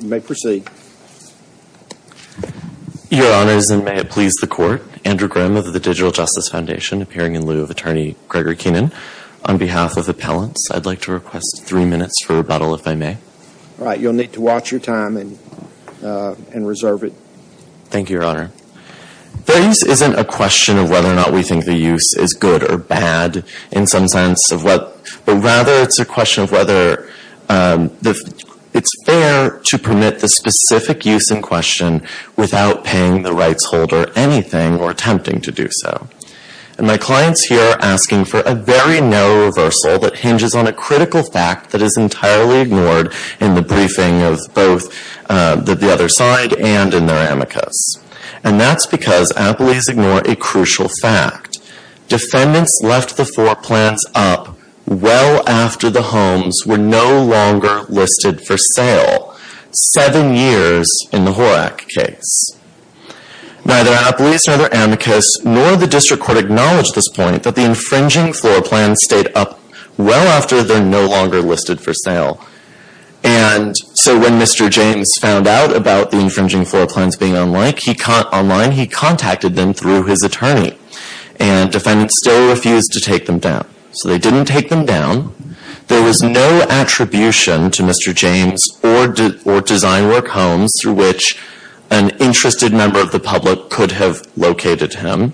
You may proceed. Your Honors, and may it please the Court, Andrew Grimm of the Digital Justice Foundation, appearing in lieu of Attorney Gregory Keenan. On behalf of Appellants, I'd like to request three minutes for rebuttal, if I may. All right, you'll need to watch your time and reserve it. Thank you, Your Honor. Fair use isn't a question of whether or not we think the use is good or bad in some sense of what, but rather it's a question of whether it's fair to permit the specific use in question without paying the rights holder anything or attempting to do so. And my clients here are asking for a very narrow reversal that hinges on a critical fact that is entirely ignored in the briefing of both the other side and in their amicus. And that's because appellees ignore a crucial fact. Defendants left the floor plans up well after the homes were no longer listed for sale, seven years in the Horak case. Neither appellees, nor their amicus, nor the District Court acknowledge this point, that the infringing floor plans stayed up well after they're no longer listed for sale. And so when Mr. James found out about the infringing floor plans being unlike, online, he contacted them through his attorney. And defendants still refused to take them down. So they didn't take them down. There was no attribution to Mr. James or DesignWork Homes through which an interested member of the public could have located him.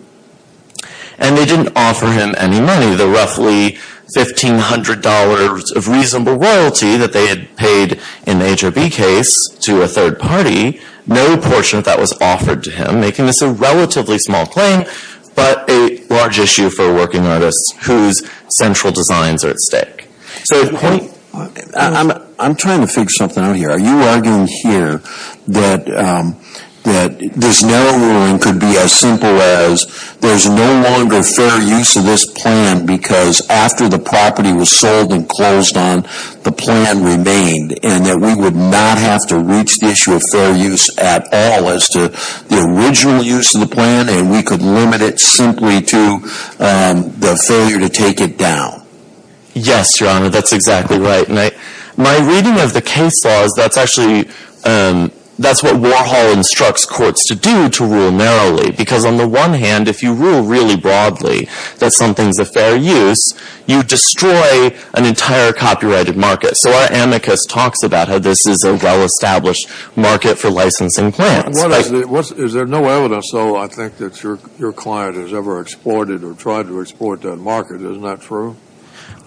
And they didn't offer him any money. The roughly $1,500 of reasonable royalty that they had paid in the HOB case to a third party, no portion of that was offered to him, making this a relatively small claim, but a large issue for a working artist whose central designs are at stake. I'm trying to figure something out here. Are you arguing here that this narrow ruling could be as simple as there's no longer fair use of this plan because after the property was sold and closed on, the plan remained and that we would not have to reach the issue of fair use at all as to the original use of the plan and we could limit it simply to the failure to take it down? Yes, Your Honor, that's exactly right. My reading of the case law is that's actually what Warhol instructs courts to do to rule narrowly. Because on the one hand, if you rule really broadly that something's a fair use, you destroy an entire copyrighted market. So our amicus talks about how this is a well-established market for licensing plans. Is there no evidence, though, I think, that your client has ever exported or tried to export that market? Isn't that true?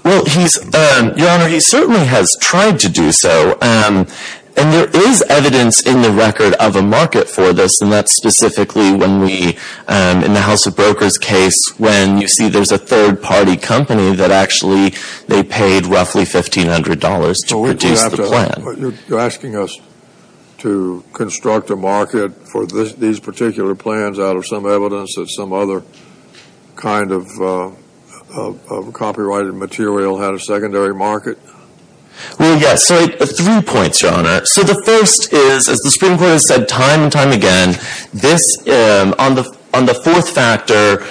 Well, Your Honor, he certainly has tried to do so. And there is evidence in the record of a market for this, and that's specifically when we, in the House of Brokers case, when you see there's a third-party company that actually they paid roughly $1,500 to produce the plan. You're asking us to construct a market for these particular plans out of some evidence that some other kind of copyrighted material had a secondary market? Well, yes. So three points, Your Honor. So the first is, as the Supreme Court has said time and time again, on the fourth factor,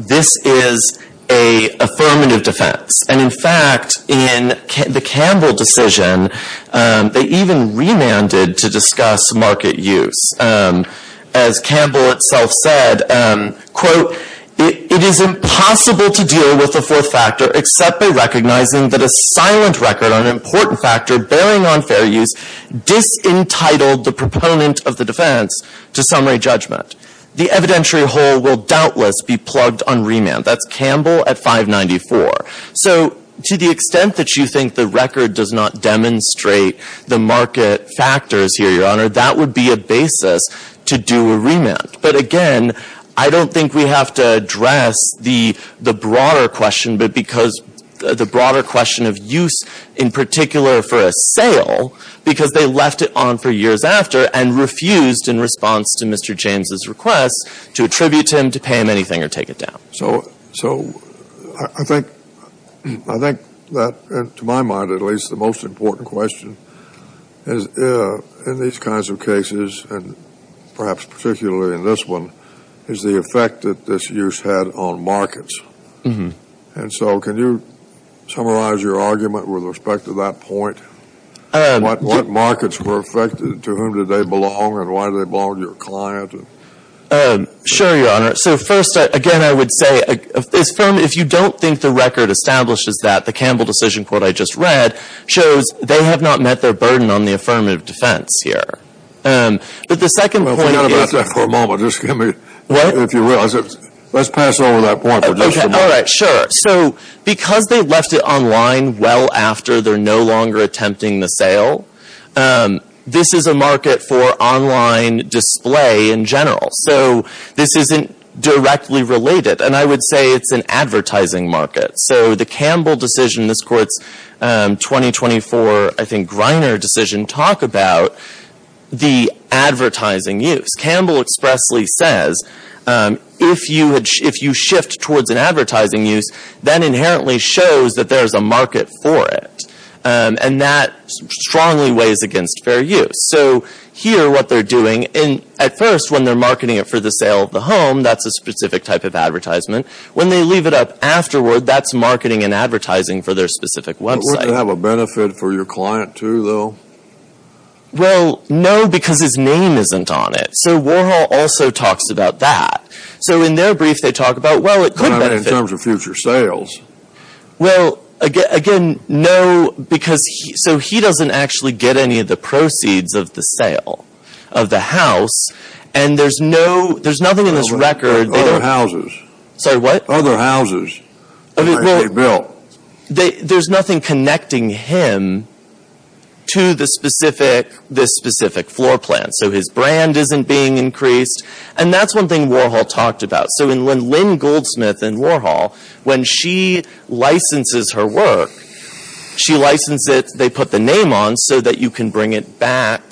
this is an affirmative defense. And, in fact, in the Campbell decision, they even remanded to discuss market use. As Campbell itself said, quote, it is impossible to deal with the fourth factor except by recognizing that a silent record on an important factor bearing on fair use disentitled the proponent of the defense to summary judgment. The evidentiary whole will doubtless be plugged on remand. That's Campbell at 594. So to the extent that you think the record does not demonstrate the market factors here, Your Honor, that would be a basis to do a remand. But, again, I don't think we have to address the broader question, but because the broader question of use, in particular for a sale, because they left it on for years after and refused, in response to Mr. James' request, to attribute him to pay him anything or take it down. So I think that, to my mind at least, the most important question is, in these kinds of cases, and perhaps particularly in this one, is the effect that this use had on markets. And so can you summarize your argument with respect to that point? What markets were affected? To whom did they belong and why did they belong to your client? Sure, Your Honor. So, first, again, I would say, if you don't think the record establishes that, the Campbell decision court I just read shows they have not met their burden on the affirmative defense here. But the second point is- Well, forget about that for a moment. Just give me- What? If you realize it. Let's pass over that point for just a moment. Okay. All right. Sure. So because they left it online well after they're no longer attempting the sale, this is a market for online display in general. So this isn't directly related. And I would say it's an advertising market. So the Campbell decision, this court's 2024, I think, Griner decision, talk about the advertising use. Campbell expressly says if you shift towards an advertising use, that inherently shows that there's a market for it. And that strongly weighs against fair use. So here what they're doing, at first when they're marketing it for the sale of the home, that's a specific type of advertisement. When they leave it up afterward, that's marketing and advertising for their specific website. Would it have a benefit for your client, too, though? Well, no, because his name isn't on it. So Warhol also talks about that. So in their brief they talk about, well, it could benefit- I mean, in terms of future sales. Well, again, no, because he doesn't actually get any of the proceeds of the sale of the house. And there's nothing in this record- Other houses. Sorry, what? Other houses that might be built. There's nothing connecting him to this specific floor plan. So his brand isn't being increased. And that's one thing Warhol talked about. So when Lynn Goldsmith and Warhol, when she licenses her work, she licenses it. So that you can bring it back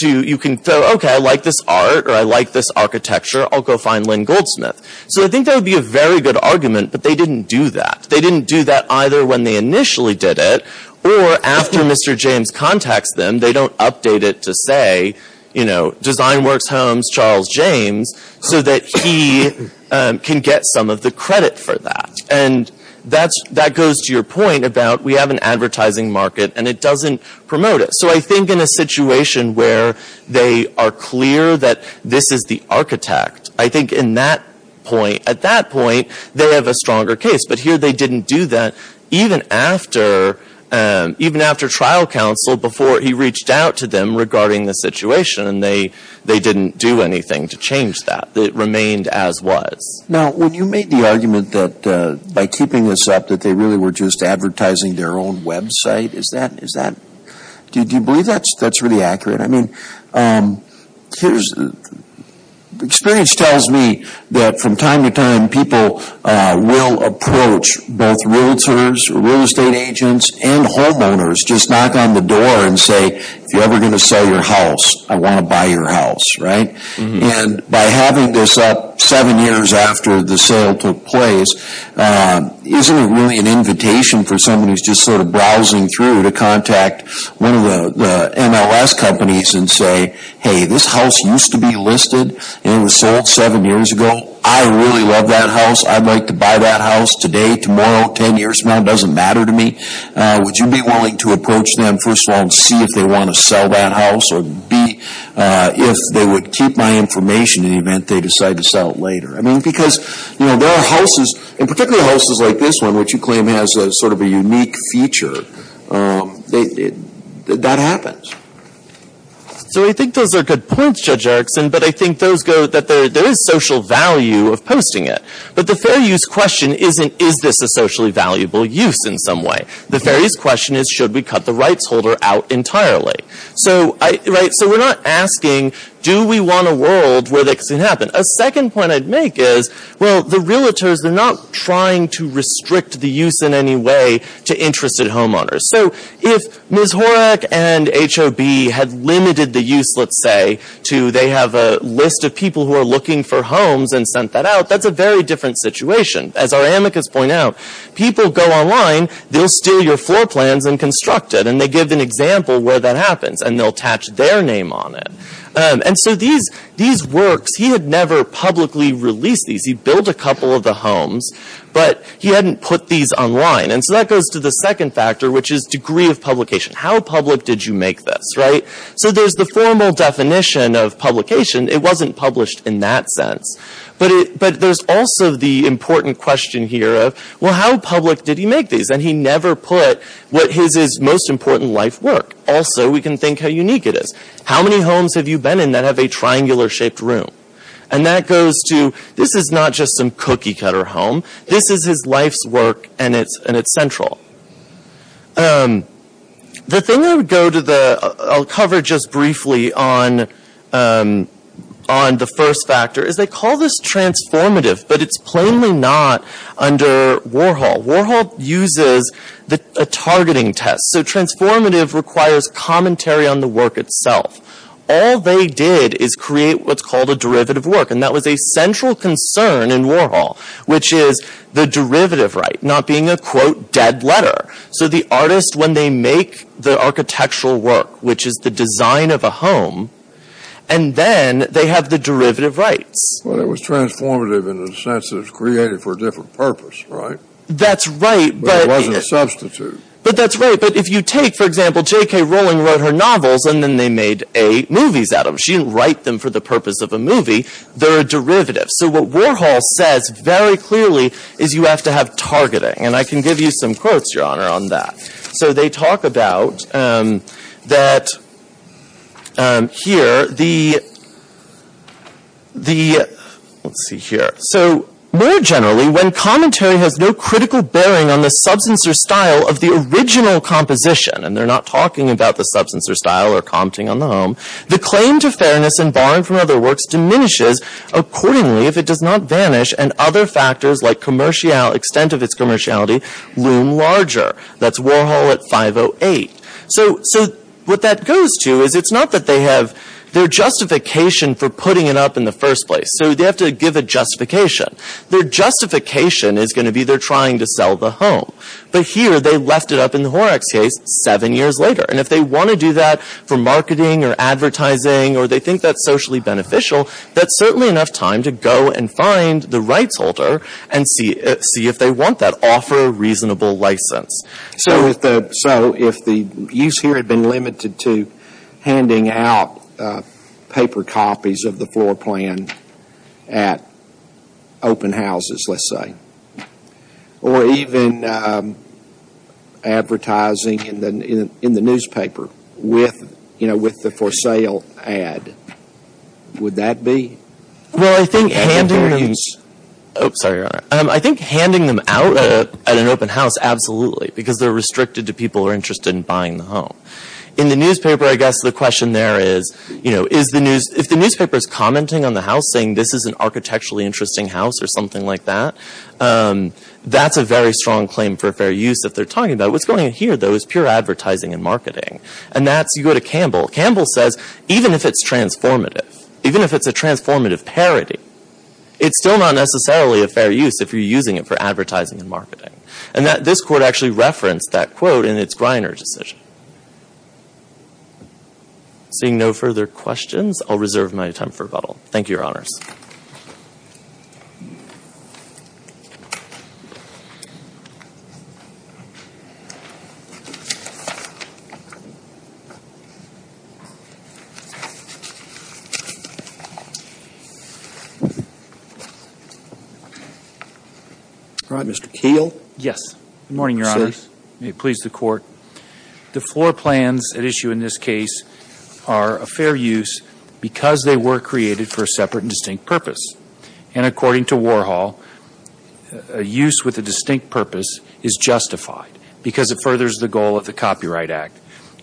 to- You can say, okay, I like this art or I like this architecture. I'll go find Lynn Goldsmith. So I think that would be a very good argument, but they didn't do that. They didn't do that either when they initially did it or after Mr. James contacts them. They don't update it to say, you know, Design Works Homes, Charles James, so that he can get some of the credit for that. And that goes to your point about we have an advertising market and it doesn't promote it. So I think in a situation where they are clear that this is the architect, I think at that point they have a stronger case. But here they didn't do that even after trial counsel, before he reached out to them regarding the situation. And they didn't do anything to change that. It remained as was. Now, when you made the argument that by keeping this up that they really were just advertising their own website, do you believe that's really accurate? I mean, experience tells me that from time to time people will approach both realtors, real estate agents, and homeowners. Just knock on the door and say, if you're ever going to sell your house, I want to buy your house. And by having this up seven years after the sale took place, isn't it really an invitation for someone who's just sort of browsing through to contact one of the MLS companies and say, hey, this house used to be listed and it was sold seven years ago. I really love that house. I'd like to buy that house today, tomorrow, ten years from now. It doesn't matter to me. Would you be willing to approach them, first of all, to see if they want to sell that house, or B, if they would keep my information in the event they decide to sell it later? I mean, because, you know, there are houses, and particularly houses like this one, which you claim has sort of a unique feature, that happens. So I think those are good points, Judge Erickson, but I think that there is social value of posting it. But the fair use question isn't, is this a socially valuable use in some way? The fair use question is, should we cut the rights holder out entirely? So we're not asking, do we want a world where this can happen? A second point I'd make is, well, the realtors, they're not trying to restrict the use in any way to interested homeowners. So if Ms. Horak and HOB had limited the use, let's say, to they have a list of people who are looking for homes and sent that out, that's a very different situation. As our amicus point out, people go online, they'll steal your floor plans and construct it, and they give an example where that happens, and they'll attach their name on it. And so these works, he had never publicly released these. He built a couple of the homes, but he hadn't put these online. And so that goes to the second factor, which is degree of publication. How public did you make this, right? So there's the formal definition of publication. It wasn't published in that sense. But there's also the important question here of, well, how public did he make these? And he never put what his most important life work. Also, we can think how unique it is. How many homes have you been in that have a triangular-shaped room? And that goes to, this is not just some cookie-cutter home. This is his life's work, and it's central. The thing I would go to, I'll cover just briefly on the first factor, is they call this transformative, but it's plainly not under Warhol. Warhol uses a targeting test. So transformative requires commentary on the work itself. All they did is create what's called a derivative work, and that was a central concern in Warhol, which is the derivative right not being a, quote, dead letter. So the artist, when they make the architectural work, which is the design of a home, and then they have the derivative rights. Well, it was transformative in the sense that it was created for a different purpose, right? That's right. But it wasn't a substitute. But that's right. But if you take, for example, J.K. Rowling wrote her novels, and then they made eight movies out of them. She didn't write them for the purpose of a movie. They're a derivative. So what Warhol says very clearly is you have to have targeting. And I can give you some quotes, Your Honor, on that. So they talk about that here, the, let's see here. So, more generally, when commentary has no critical bearing on the substance or style of the original composition, and they're not talking about the substance or style or compting on the home, the claim to fairness and barring from other works diminishes accordingly if it does not vanish and other factors like extent of its commerciality loom larger. That's Warhol at 508. So what that goes to is it's not that they have their justification for putting it up in the first place. So they have to give a justification. Their justification is going to be they're trying to sell the home. But here they left it up in the Horrocks case seven years later. And if they want to do that for marketing or advertising or they think that's socially beneficial, that's certainly enough time to go and find the rights holder and see if they want that offer reasonable license. So if the use here had been limited to handing out paper copies of the floor plan at open houses, let's say, or even advertising in the newspaper with, you know, with the for sale ad, would that be? Well, I think handing them out at an open house, absolutely, because they're restricted to people who are interested in buying the home. In the newspaper, I guess the question there is, you know, that's a very strong claim for fair use if they're talking about it. What's going on here, though, is pure advertising and marketing. And that's, you go to Campbell. Campbell says, even if it's transformative, even if it's a transformative parody, it's still not necessarily a fair use if you're using it for advertising and marketing. And this court actually referenced that quote in its Greiner decision. Seeing no further questions, I'll reserve my time for rebuttal. Thank you, Your Honors. Mr. Keele? Yes. Good morning, Your Honors. May it please the Court. The floor plans at issue in this case are a fair use because they were created for a separate and distinct purpose. And according to Warhol, a use with a distinct purpose is justified because it furthers the goal of the Copyright Act,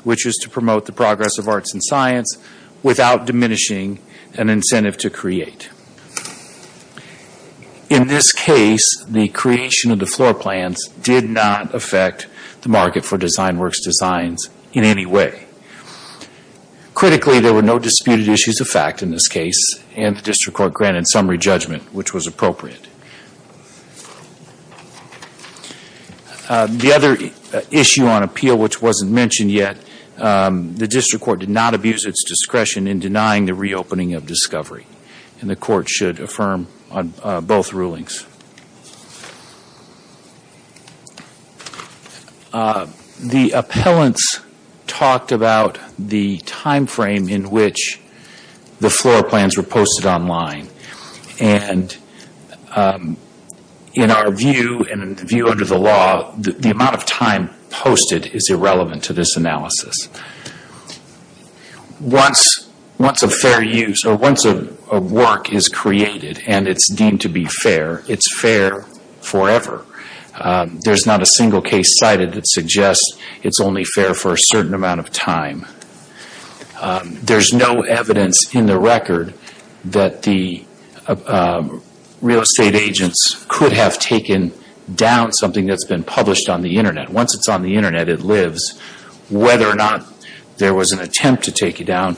which is to promote the progress of arts and science without diminishing an incentive to create. In this case, the creation of the floor plans did not affect the market for DesignWorks designs in any way. Critically, there were no disputed issues of fact in this case, and the District Court granted summary judgment, which was appropriate. The other issue on appeal, which wasn't mentioned yet, the District Court did not abuse its discretion in denying the reopening of Discovery, and the Court should affirm on both rulings. The appellants talked about the time frame in which the floor plans were posted online. And in our view, and the view under the law, the amount of time posted is irrelevant to this analysis. Once a work is created and it's deemed to be fair, it's fair forever. There's not a single case cited that suggests it's only fair for a certain amount of time. There's no evidence in the record that the real estate agents could have taken down something that's been published on the Internet. Once it's on the Internet, it lives whether or not there was an attempt to take it down,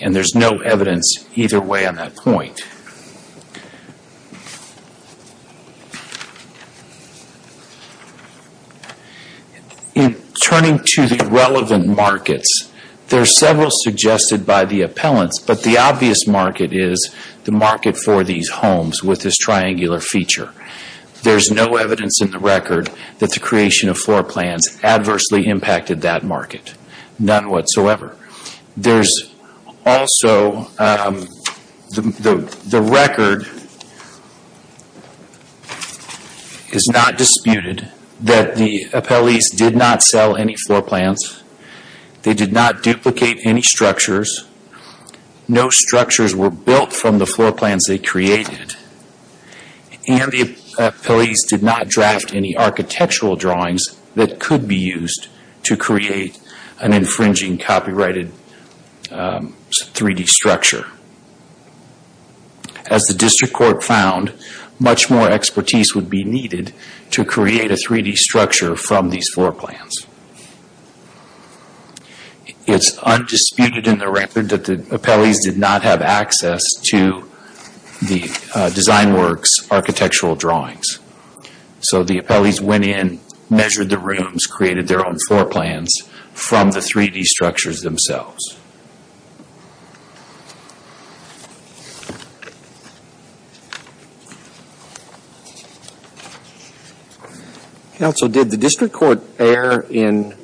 and there's no evidence either way on that point. In turning to the relevant markets, there are several suggested by the appellants, but the obvious market is the market for these homes with this triangular feature. There's no evidence in the record that the creation of floor plans adversely impacted that market. None whatsoever. The record is not disputed that the appellees did not sell any floor plans. They did not duplicate any structures. No structures were built from the floor plans they created. The appellees did not draft any architectural drawings that could be used to create an infringing copyrighted 3D structure. As the district court found, much more expertise would be needed to create a 3D structure from these floor plans. It's undisputed in the record that the appellees did not have access to the DesignWorks architectural drawings. So the appellees went in, measured the rooms, created their own floor plans from the 3D structures themselves. Counsel, did the district court err in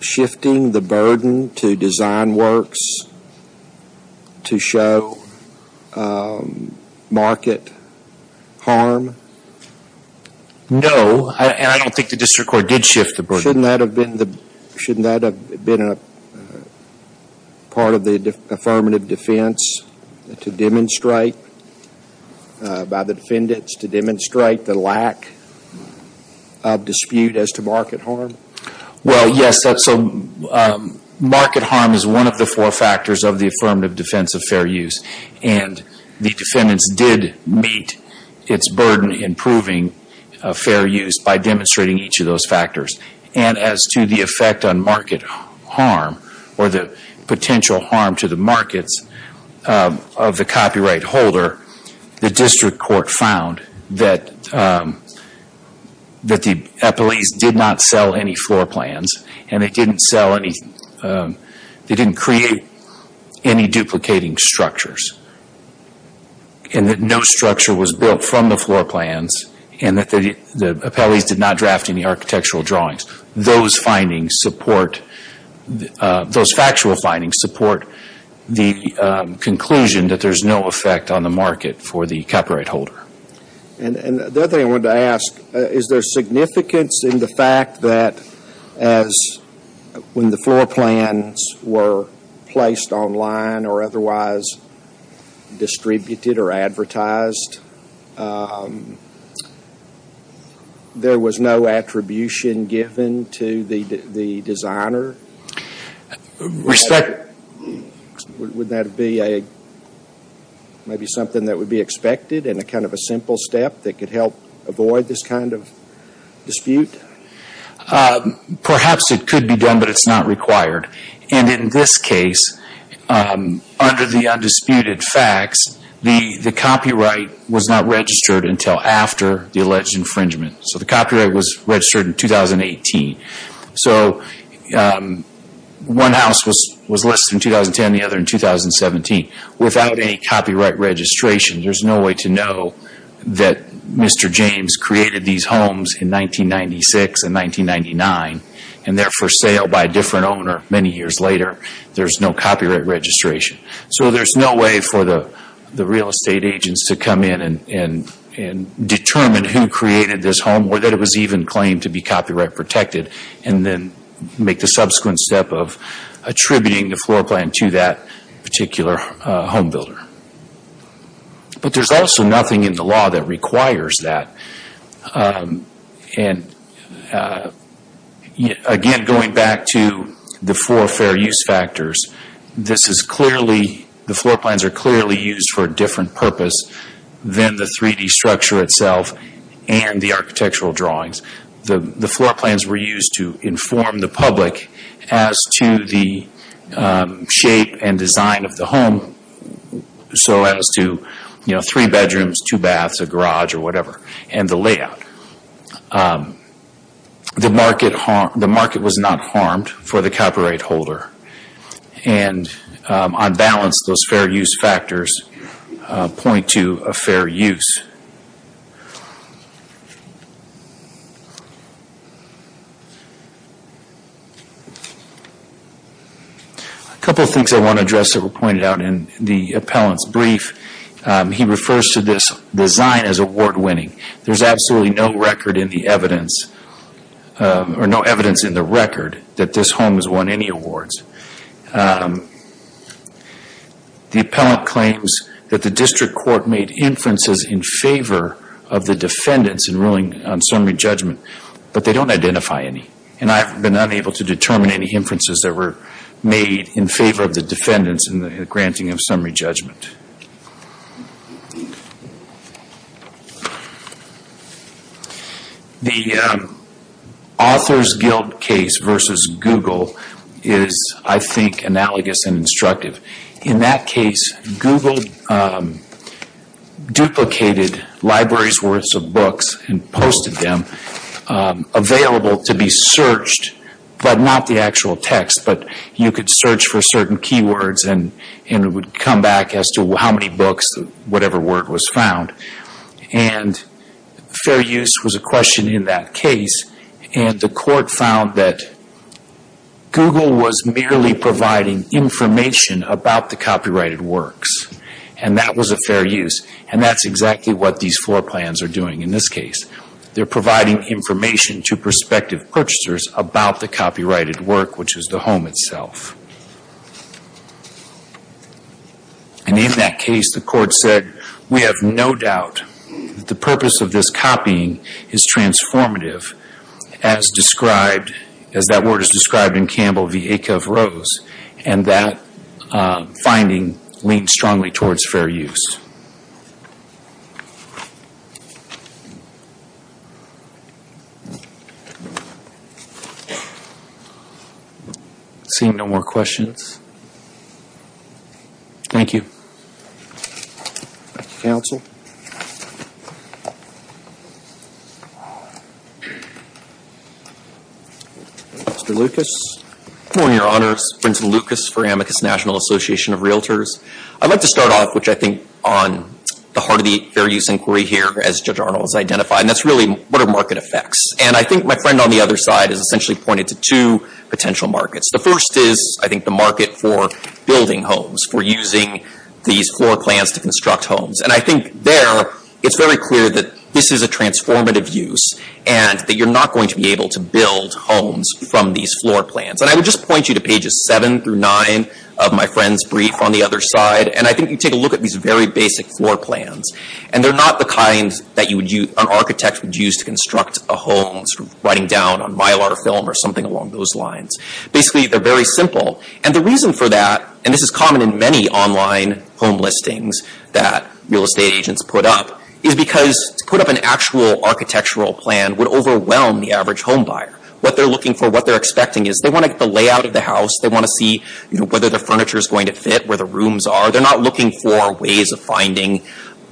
shifting the burden to DesignWorks to show market harm? No, and I don't think the district court did shift the burden. Shouldn't that have been part of the affirmative defense to demonstrate by the defendants, to demonstrate the lack of dispute as to market harm? Well, yes, market harm is one of the four factors of the affirmative defense of fair use. And the defendants did meet its burden in proving fair use by demonstrating each of those factors. And as to the effect on market harm, or the potential harm to the markets of the copyright holder, the district court found that the appellees did not sell any floor plans. And they didn't create any duplicating structures. And that no structure was built from the floor plans. And that the appellees did not draft any architectural drawings. Those factual findings support the conclusion that there's no effect on the market for the copyright holder. And the other thing I wanted to ask, is there significance in the fact that as when the floor plans were placed online or otherwise distributed or advertised, there was no attribution given to the designer? Would that be maybe something that would be expected in a kind of a simple step that could help avoid this kind of dispute? Perhaps it could be done, but it's not required. And in this case, under the undisputed facts, the copyright was not registered until after the alleged infringement. So the copyright was registered in 2018. So one house was listed in 2010, the other in 2017. Without any copyright registration, there's no way to know that Mr. James created these homes in 1996 and 1999. And they're for sale by a different owner many years later. There's no copyright registration. So there's no way for the real estate agents to come in and determine who created this home or that it was even claimed to be copyright protected, and then make the subsequent step of attributing the floor plan to that particular home builder. But there's also nothing in the law that requires that. Again, going back to the four fair use factors, the floor plans are clearly used for a different purpose than the 3D structure itself and the architectural drawings. The floor plans were used to inform the public as to the shape and design of the home, so as to three bedrooms, two baths, a garage, or whatever, and the layout. The market was not harmed for the copyright holder. And on balance, those fair use factors point to a fair use. A couple of things I want to address that were pointed out in the appellant's brief. He refers to this design as award winning. There's absolutely no evidence in the record that this home has won any awards. The appellant claims that the district court made inferences in favor of the defendants in ruling on summary judgment, but they don't identify any. And I've been unable to determine any inferences that were made in favor of the defendants in the granting of summary judgment. The author's guilt case versus Google is, I think, analogous and instructive. In that case, Google duplicated libraries worth of books and posted them, available to be searched, but not the actual text, but you could search for certain keywords and it would come back as to how many books, whatever word was found. And fair use was a question in that case. And the court found that Google was merely providing information about the copyrighted works. And that was a fair use. And that's exactly what these four plans are doing in this case. They're providing information to prospective purchasers about the copyrighted work, which is the home itself. And in that case, the court said, we have no doubt that the purpose of this copying is transformative, as described, as that word is described in Campbell v. Acuff-Rose, and that finding leans strongly towards fair use. Seeing no more questions. Thank you. Thank you, counsel. Mr. Lucas. Good morning, Your Honor. It's Vincent Lucas for Amicus National Association of Realtors. I'd like to start off, which I think all of us would like to start off with, on the heart of the fair use inquiry here, as Judge Arnold has identified. And that's really, what are market effects? And I think my friend on the other side has essentially pointed to two potential markets. The first is, I think, the market for building homes, for using these floor plans to construct homes. And I think there, it's very clear that this is a transformative use, and that you're not going to be able to build homes from these floor plans. And I would just point you to pages 7 through 9 of my friend's brief on the other side. And I think you take a look at these very basic floor plans. And they're not the kind that an architect would use to construct a home, writing down on Mylar film or something along those lines. Basically, they're very simple. And the reason for that, and this is common in many online home listings that real estate agents put up, is because to put up an actual architectural plan would overwhelm the average home buyer. What they're looking for, what they're expecting, is they want to get the layout of the house. They want to see whether the furniture is going to fit, where the rooms are. They're not looking for ways of finding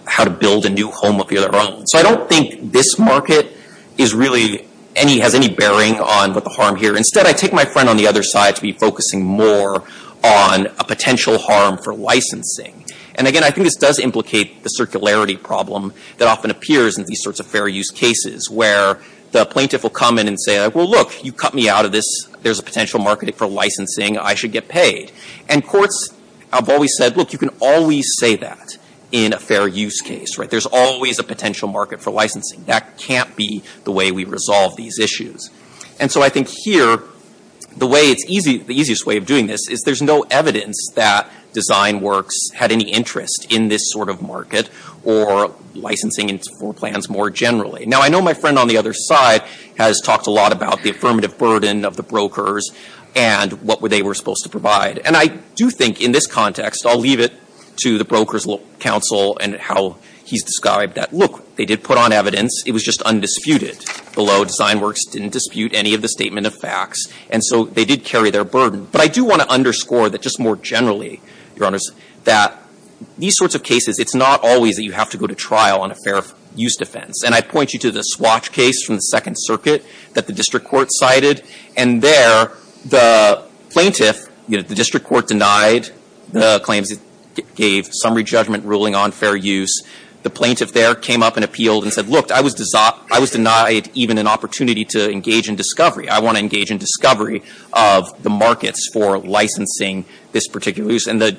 how to build a new home of their own. So I don't think this market is really any, has any bearing on what the harm here. Instead, I take my friend on the other side to be focusing more on a potential harm for licensing. And again, I think this does implicate the circularity problem that often appears in these sorts of fair use cases, where the plaintiff will come in and say, well, look, you cut me out of this. There's a potential market for licensing. I should get paid. And courts have always said, look, you can always say that in a fair use case, right? There's always a potential market for licensing. That can't be the way we resolve these issues. And so I think here, the way it's easy, the easiest way of doing this, is there's no evidence that DesignWorks had any interest in this sort of market or licensing for plans more generally. Now, I know my friend on the other side has talked a lot about the affirmative burden of the brokers and what they were supposed to provide. And I do think in this context, I'll leave it to the Brokers Council and how he's described that. Look, they did put on evidence. It was just undisputed. Below, DesignWorks didn't dispute any of the statement of facts. And so they did carry their burden. But I do want to underscore that just more generally, Your Honors, that these sorts of cases, it's not always that you have to go to trial on a fair use defense. And I point you to the Swatch case from the Second Circuit that the district court cited. And there, the plaintiff, the district court denied the claims. It gave summary judgment ruling on fair use. The plaintiff there came up and appealed and said, look, I was denied even an opportunity to engage in discovery. I want to engage in discovery of the markets for licensing this particular use. And the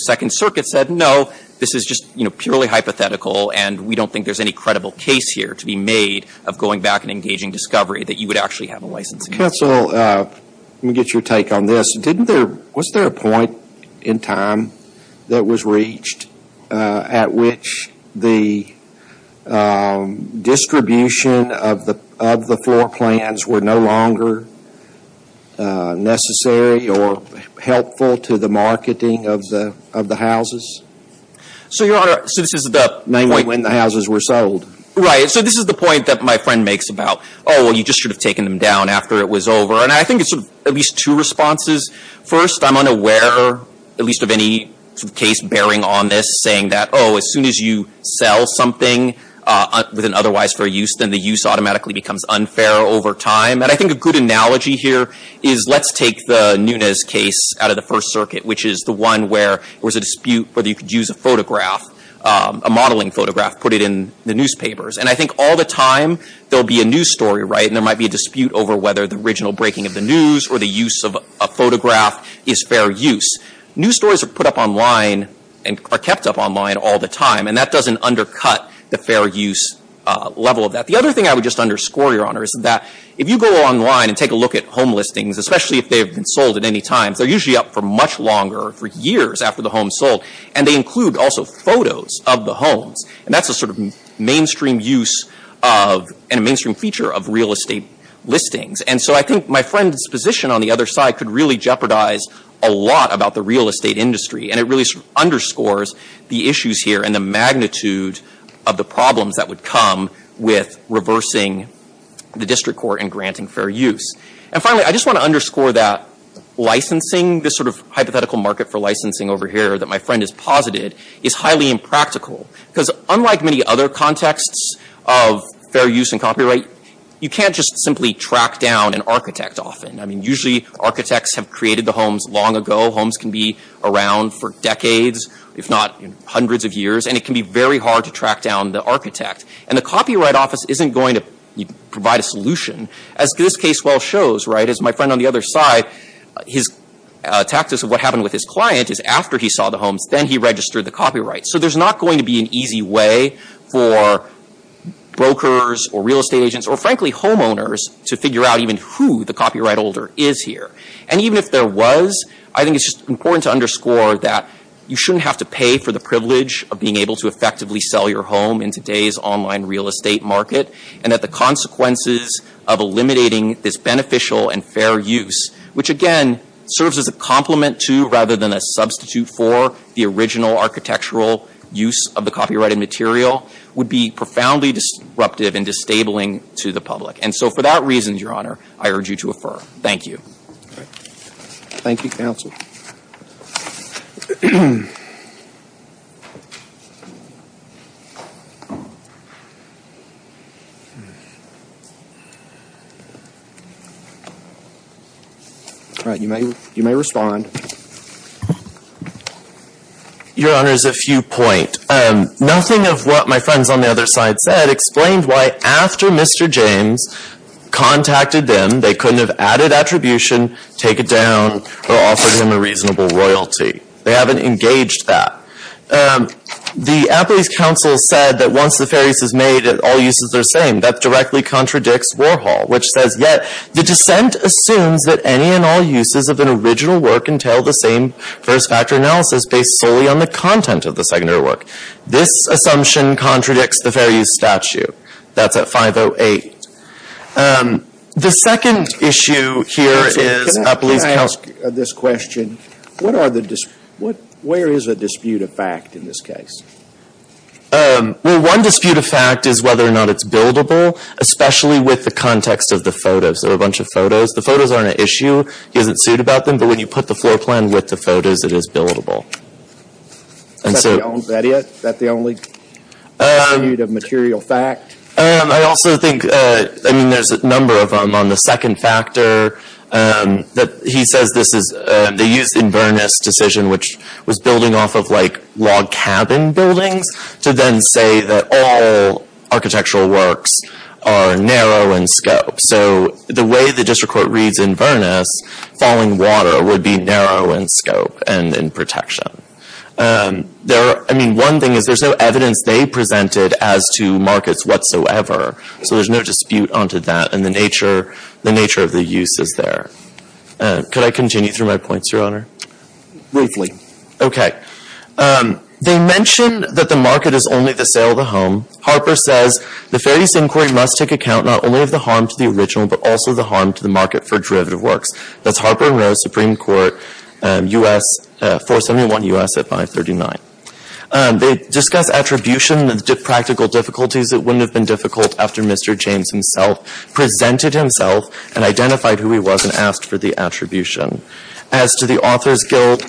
Second Circuit said, no, this is just purely hypothetical. And we don't think there's any credible case here to be made of going back and engaging discovery that you would actually have a licensing. Counsel, let me get your take on this. Wasn't there a point in time that was reached at which the distribution of the floor plans were no longer necessary or helpful to the marketing of the houses? So, Your Honor, this is the point. Namely, when the houses were sold. Right. So this is the point that my friend makes about, oh, well, you just should have taken them down after it was over. And I think it's at least two responses. First, I'm unaware, at least of any case bearing on this, saying that, oh, as soon as you sell something with an otherwise fair use, then the use automatically becomes unfair over time. And I think a good analogy here is, let's take the Nunes case out of the First Circuit, which is the one where there was a dispute whether you could use a photograph, a modeling photograph, put it in the newspapers. And I think all the time there will be a news story, right, and there might be a dispute over whether the original breaking of the news or the use of a photograph is fair use. News stories are put up online and are kept up online all the time. And that doesn't undercut the fair use level of that. The other thing I would just underscore, Your Honor, is that if you go online and take a look at home listings, especially if they have been sold at any time, they're usually up for much longer, for years after the home is sold. And they include also photos of the homes. And that's a sort of mainstream use of and a mainstream feature of real estate listings. And so I think my friend's position on the other side could really jeopardize a lot about the real estate industry. And it really underscores the issues here and the magnitude of the problems that would come with reversing the district court and granting fair use. And finally, I just want to underscore that licensing, this sort of hypothetical market for licensing over here that my friend has posited, is highly impractical. Because unlike many other contexts of fair use and copyright, you can't just simply track down an architect often. I mean, usually architects have created the homes long ago. Homes can be around for decades, if not hundreds of years. And it can be very hard to track down the architect. And the copyright office isn't going to provide a solution. As this case well shows, right, as my friend on the other side, his tactics of what happened with his client is after he saw the homes, then he registered the copyright. So there's not going to be an easy way for brokers or real estate agents, or frankly homeowners, to figure out even who the copyright holder is here. And even if there was, I think it's just important to underscore that you shouldn't have to pay for the privilege of being able to effectively sell your home in today's online real estate market. And that the consequences of eliminating this beneficial and fair use, which again serves as a compliment to rather than a substitute for the original architectural use of the copyrighted material, would be profoundly disruptive and disabling to the public. And so for that reason, Your Honor, I urge you to refer. Thank you. Thank you, counsel. All right, you may respond. Your Honor, there's a few points. First, nothing of what my friends on the other side said explained why after Mr. James contacted them, they couldn't have added attribution, take it down, or offered him a reasonable royalty. They haven't engaged that. The Appellee's counsel said that once the fair use is made, all uses are the same. That directly contradicts Warhol, which says, yet the dissent assumes that any and all uses of an original work entail the same first factor analysis based solely on the content of the secondary work. This assumption contradicts the fair use statute. That's at 508. The second issue here is Appellee's counsel. Counsel, can I ask this question? Where is a dispute of fact in this case? Well, one dispute of fact is whether or not it's buildable, especially with the context of the photos. There are a bunch of photos. The photos aren't an issue. He doesn't suit about them, but when you put the floor plan with the photos, it is buildable. Is that the only dispute of material fact? I also think, I mean, there's a number of them. On the second factor, he says this is, they used Inverness' decision, which was building off of, like, log cabin buildings, to then say that all architectural works are narrow in scope. So the way the district court reads Inverness, falling water would be narrow in scope and in protection. I mean, one thing is there's no evidence they presented as to markets whatsoever. So there's no dispute onto that, and the nature of the use is there. Could I continue through my points, Your Honor? Briefly. Okay. They mention that the market is only the sale of the home. Harper says the Fair Use Inquiry must take account not only of the harm to the original, but also the harm to the market for derivative works. That's Harper and Rose Supreme Court, U.S., 471 U.S. at 539. They discuss attribution and practical difficulties that wouldn't have been difficult after Mr. James himself presented himself and identified who he was and asked for the attribution. As to the Authors Guild,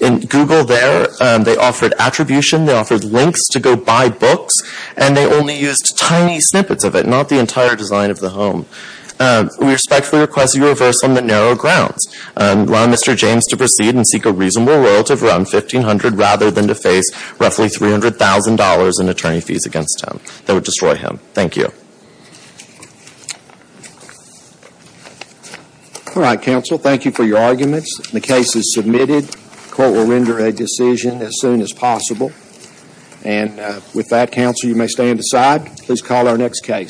in Google there, they offered attribution, they offered links to go buy books, and they only used tiny snippets of it, not the entire design of the home. We respectfully request that you reverse on the narrow grounds and allow Mr. James to proceed and seek a reasonable royalty of around $1,500 rather than to face roughly $300,000 in attorney fees against him. That would destroy him. Thank you. All right, counsel. Thank you for your arguments. The case is submitted. Court will render a decision as soon as possible. And with that, counsel, you may stand aside. Please call our next case.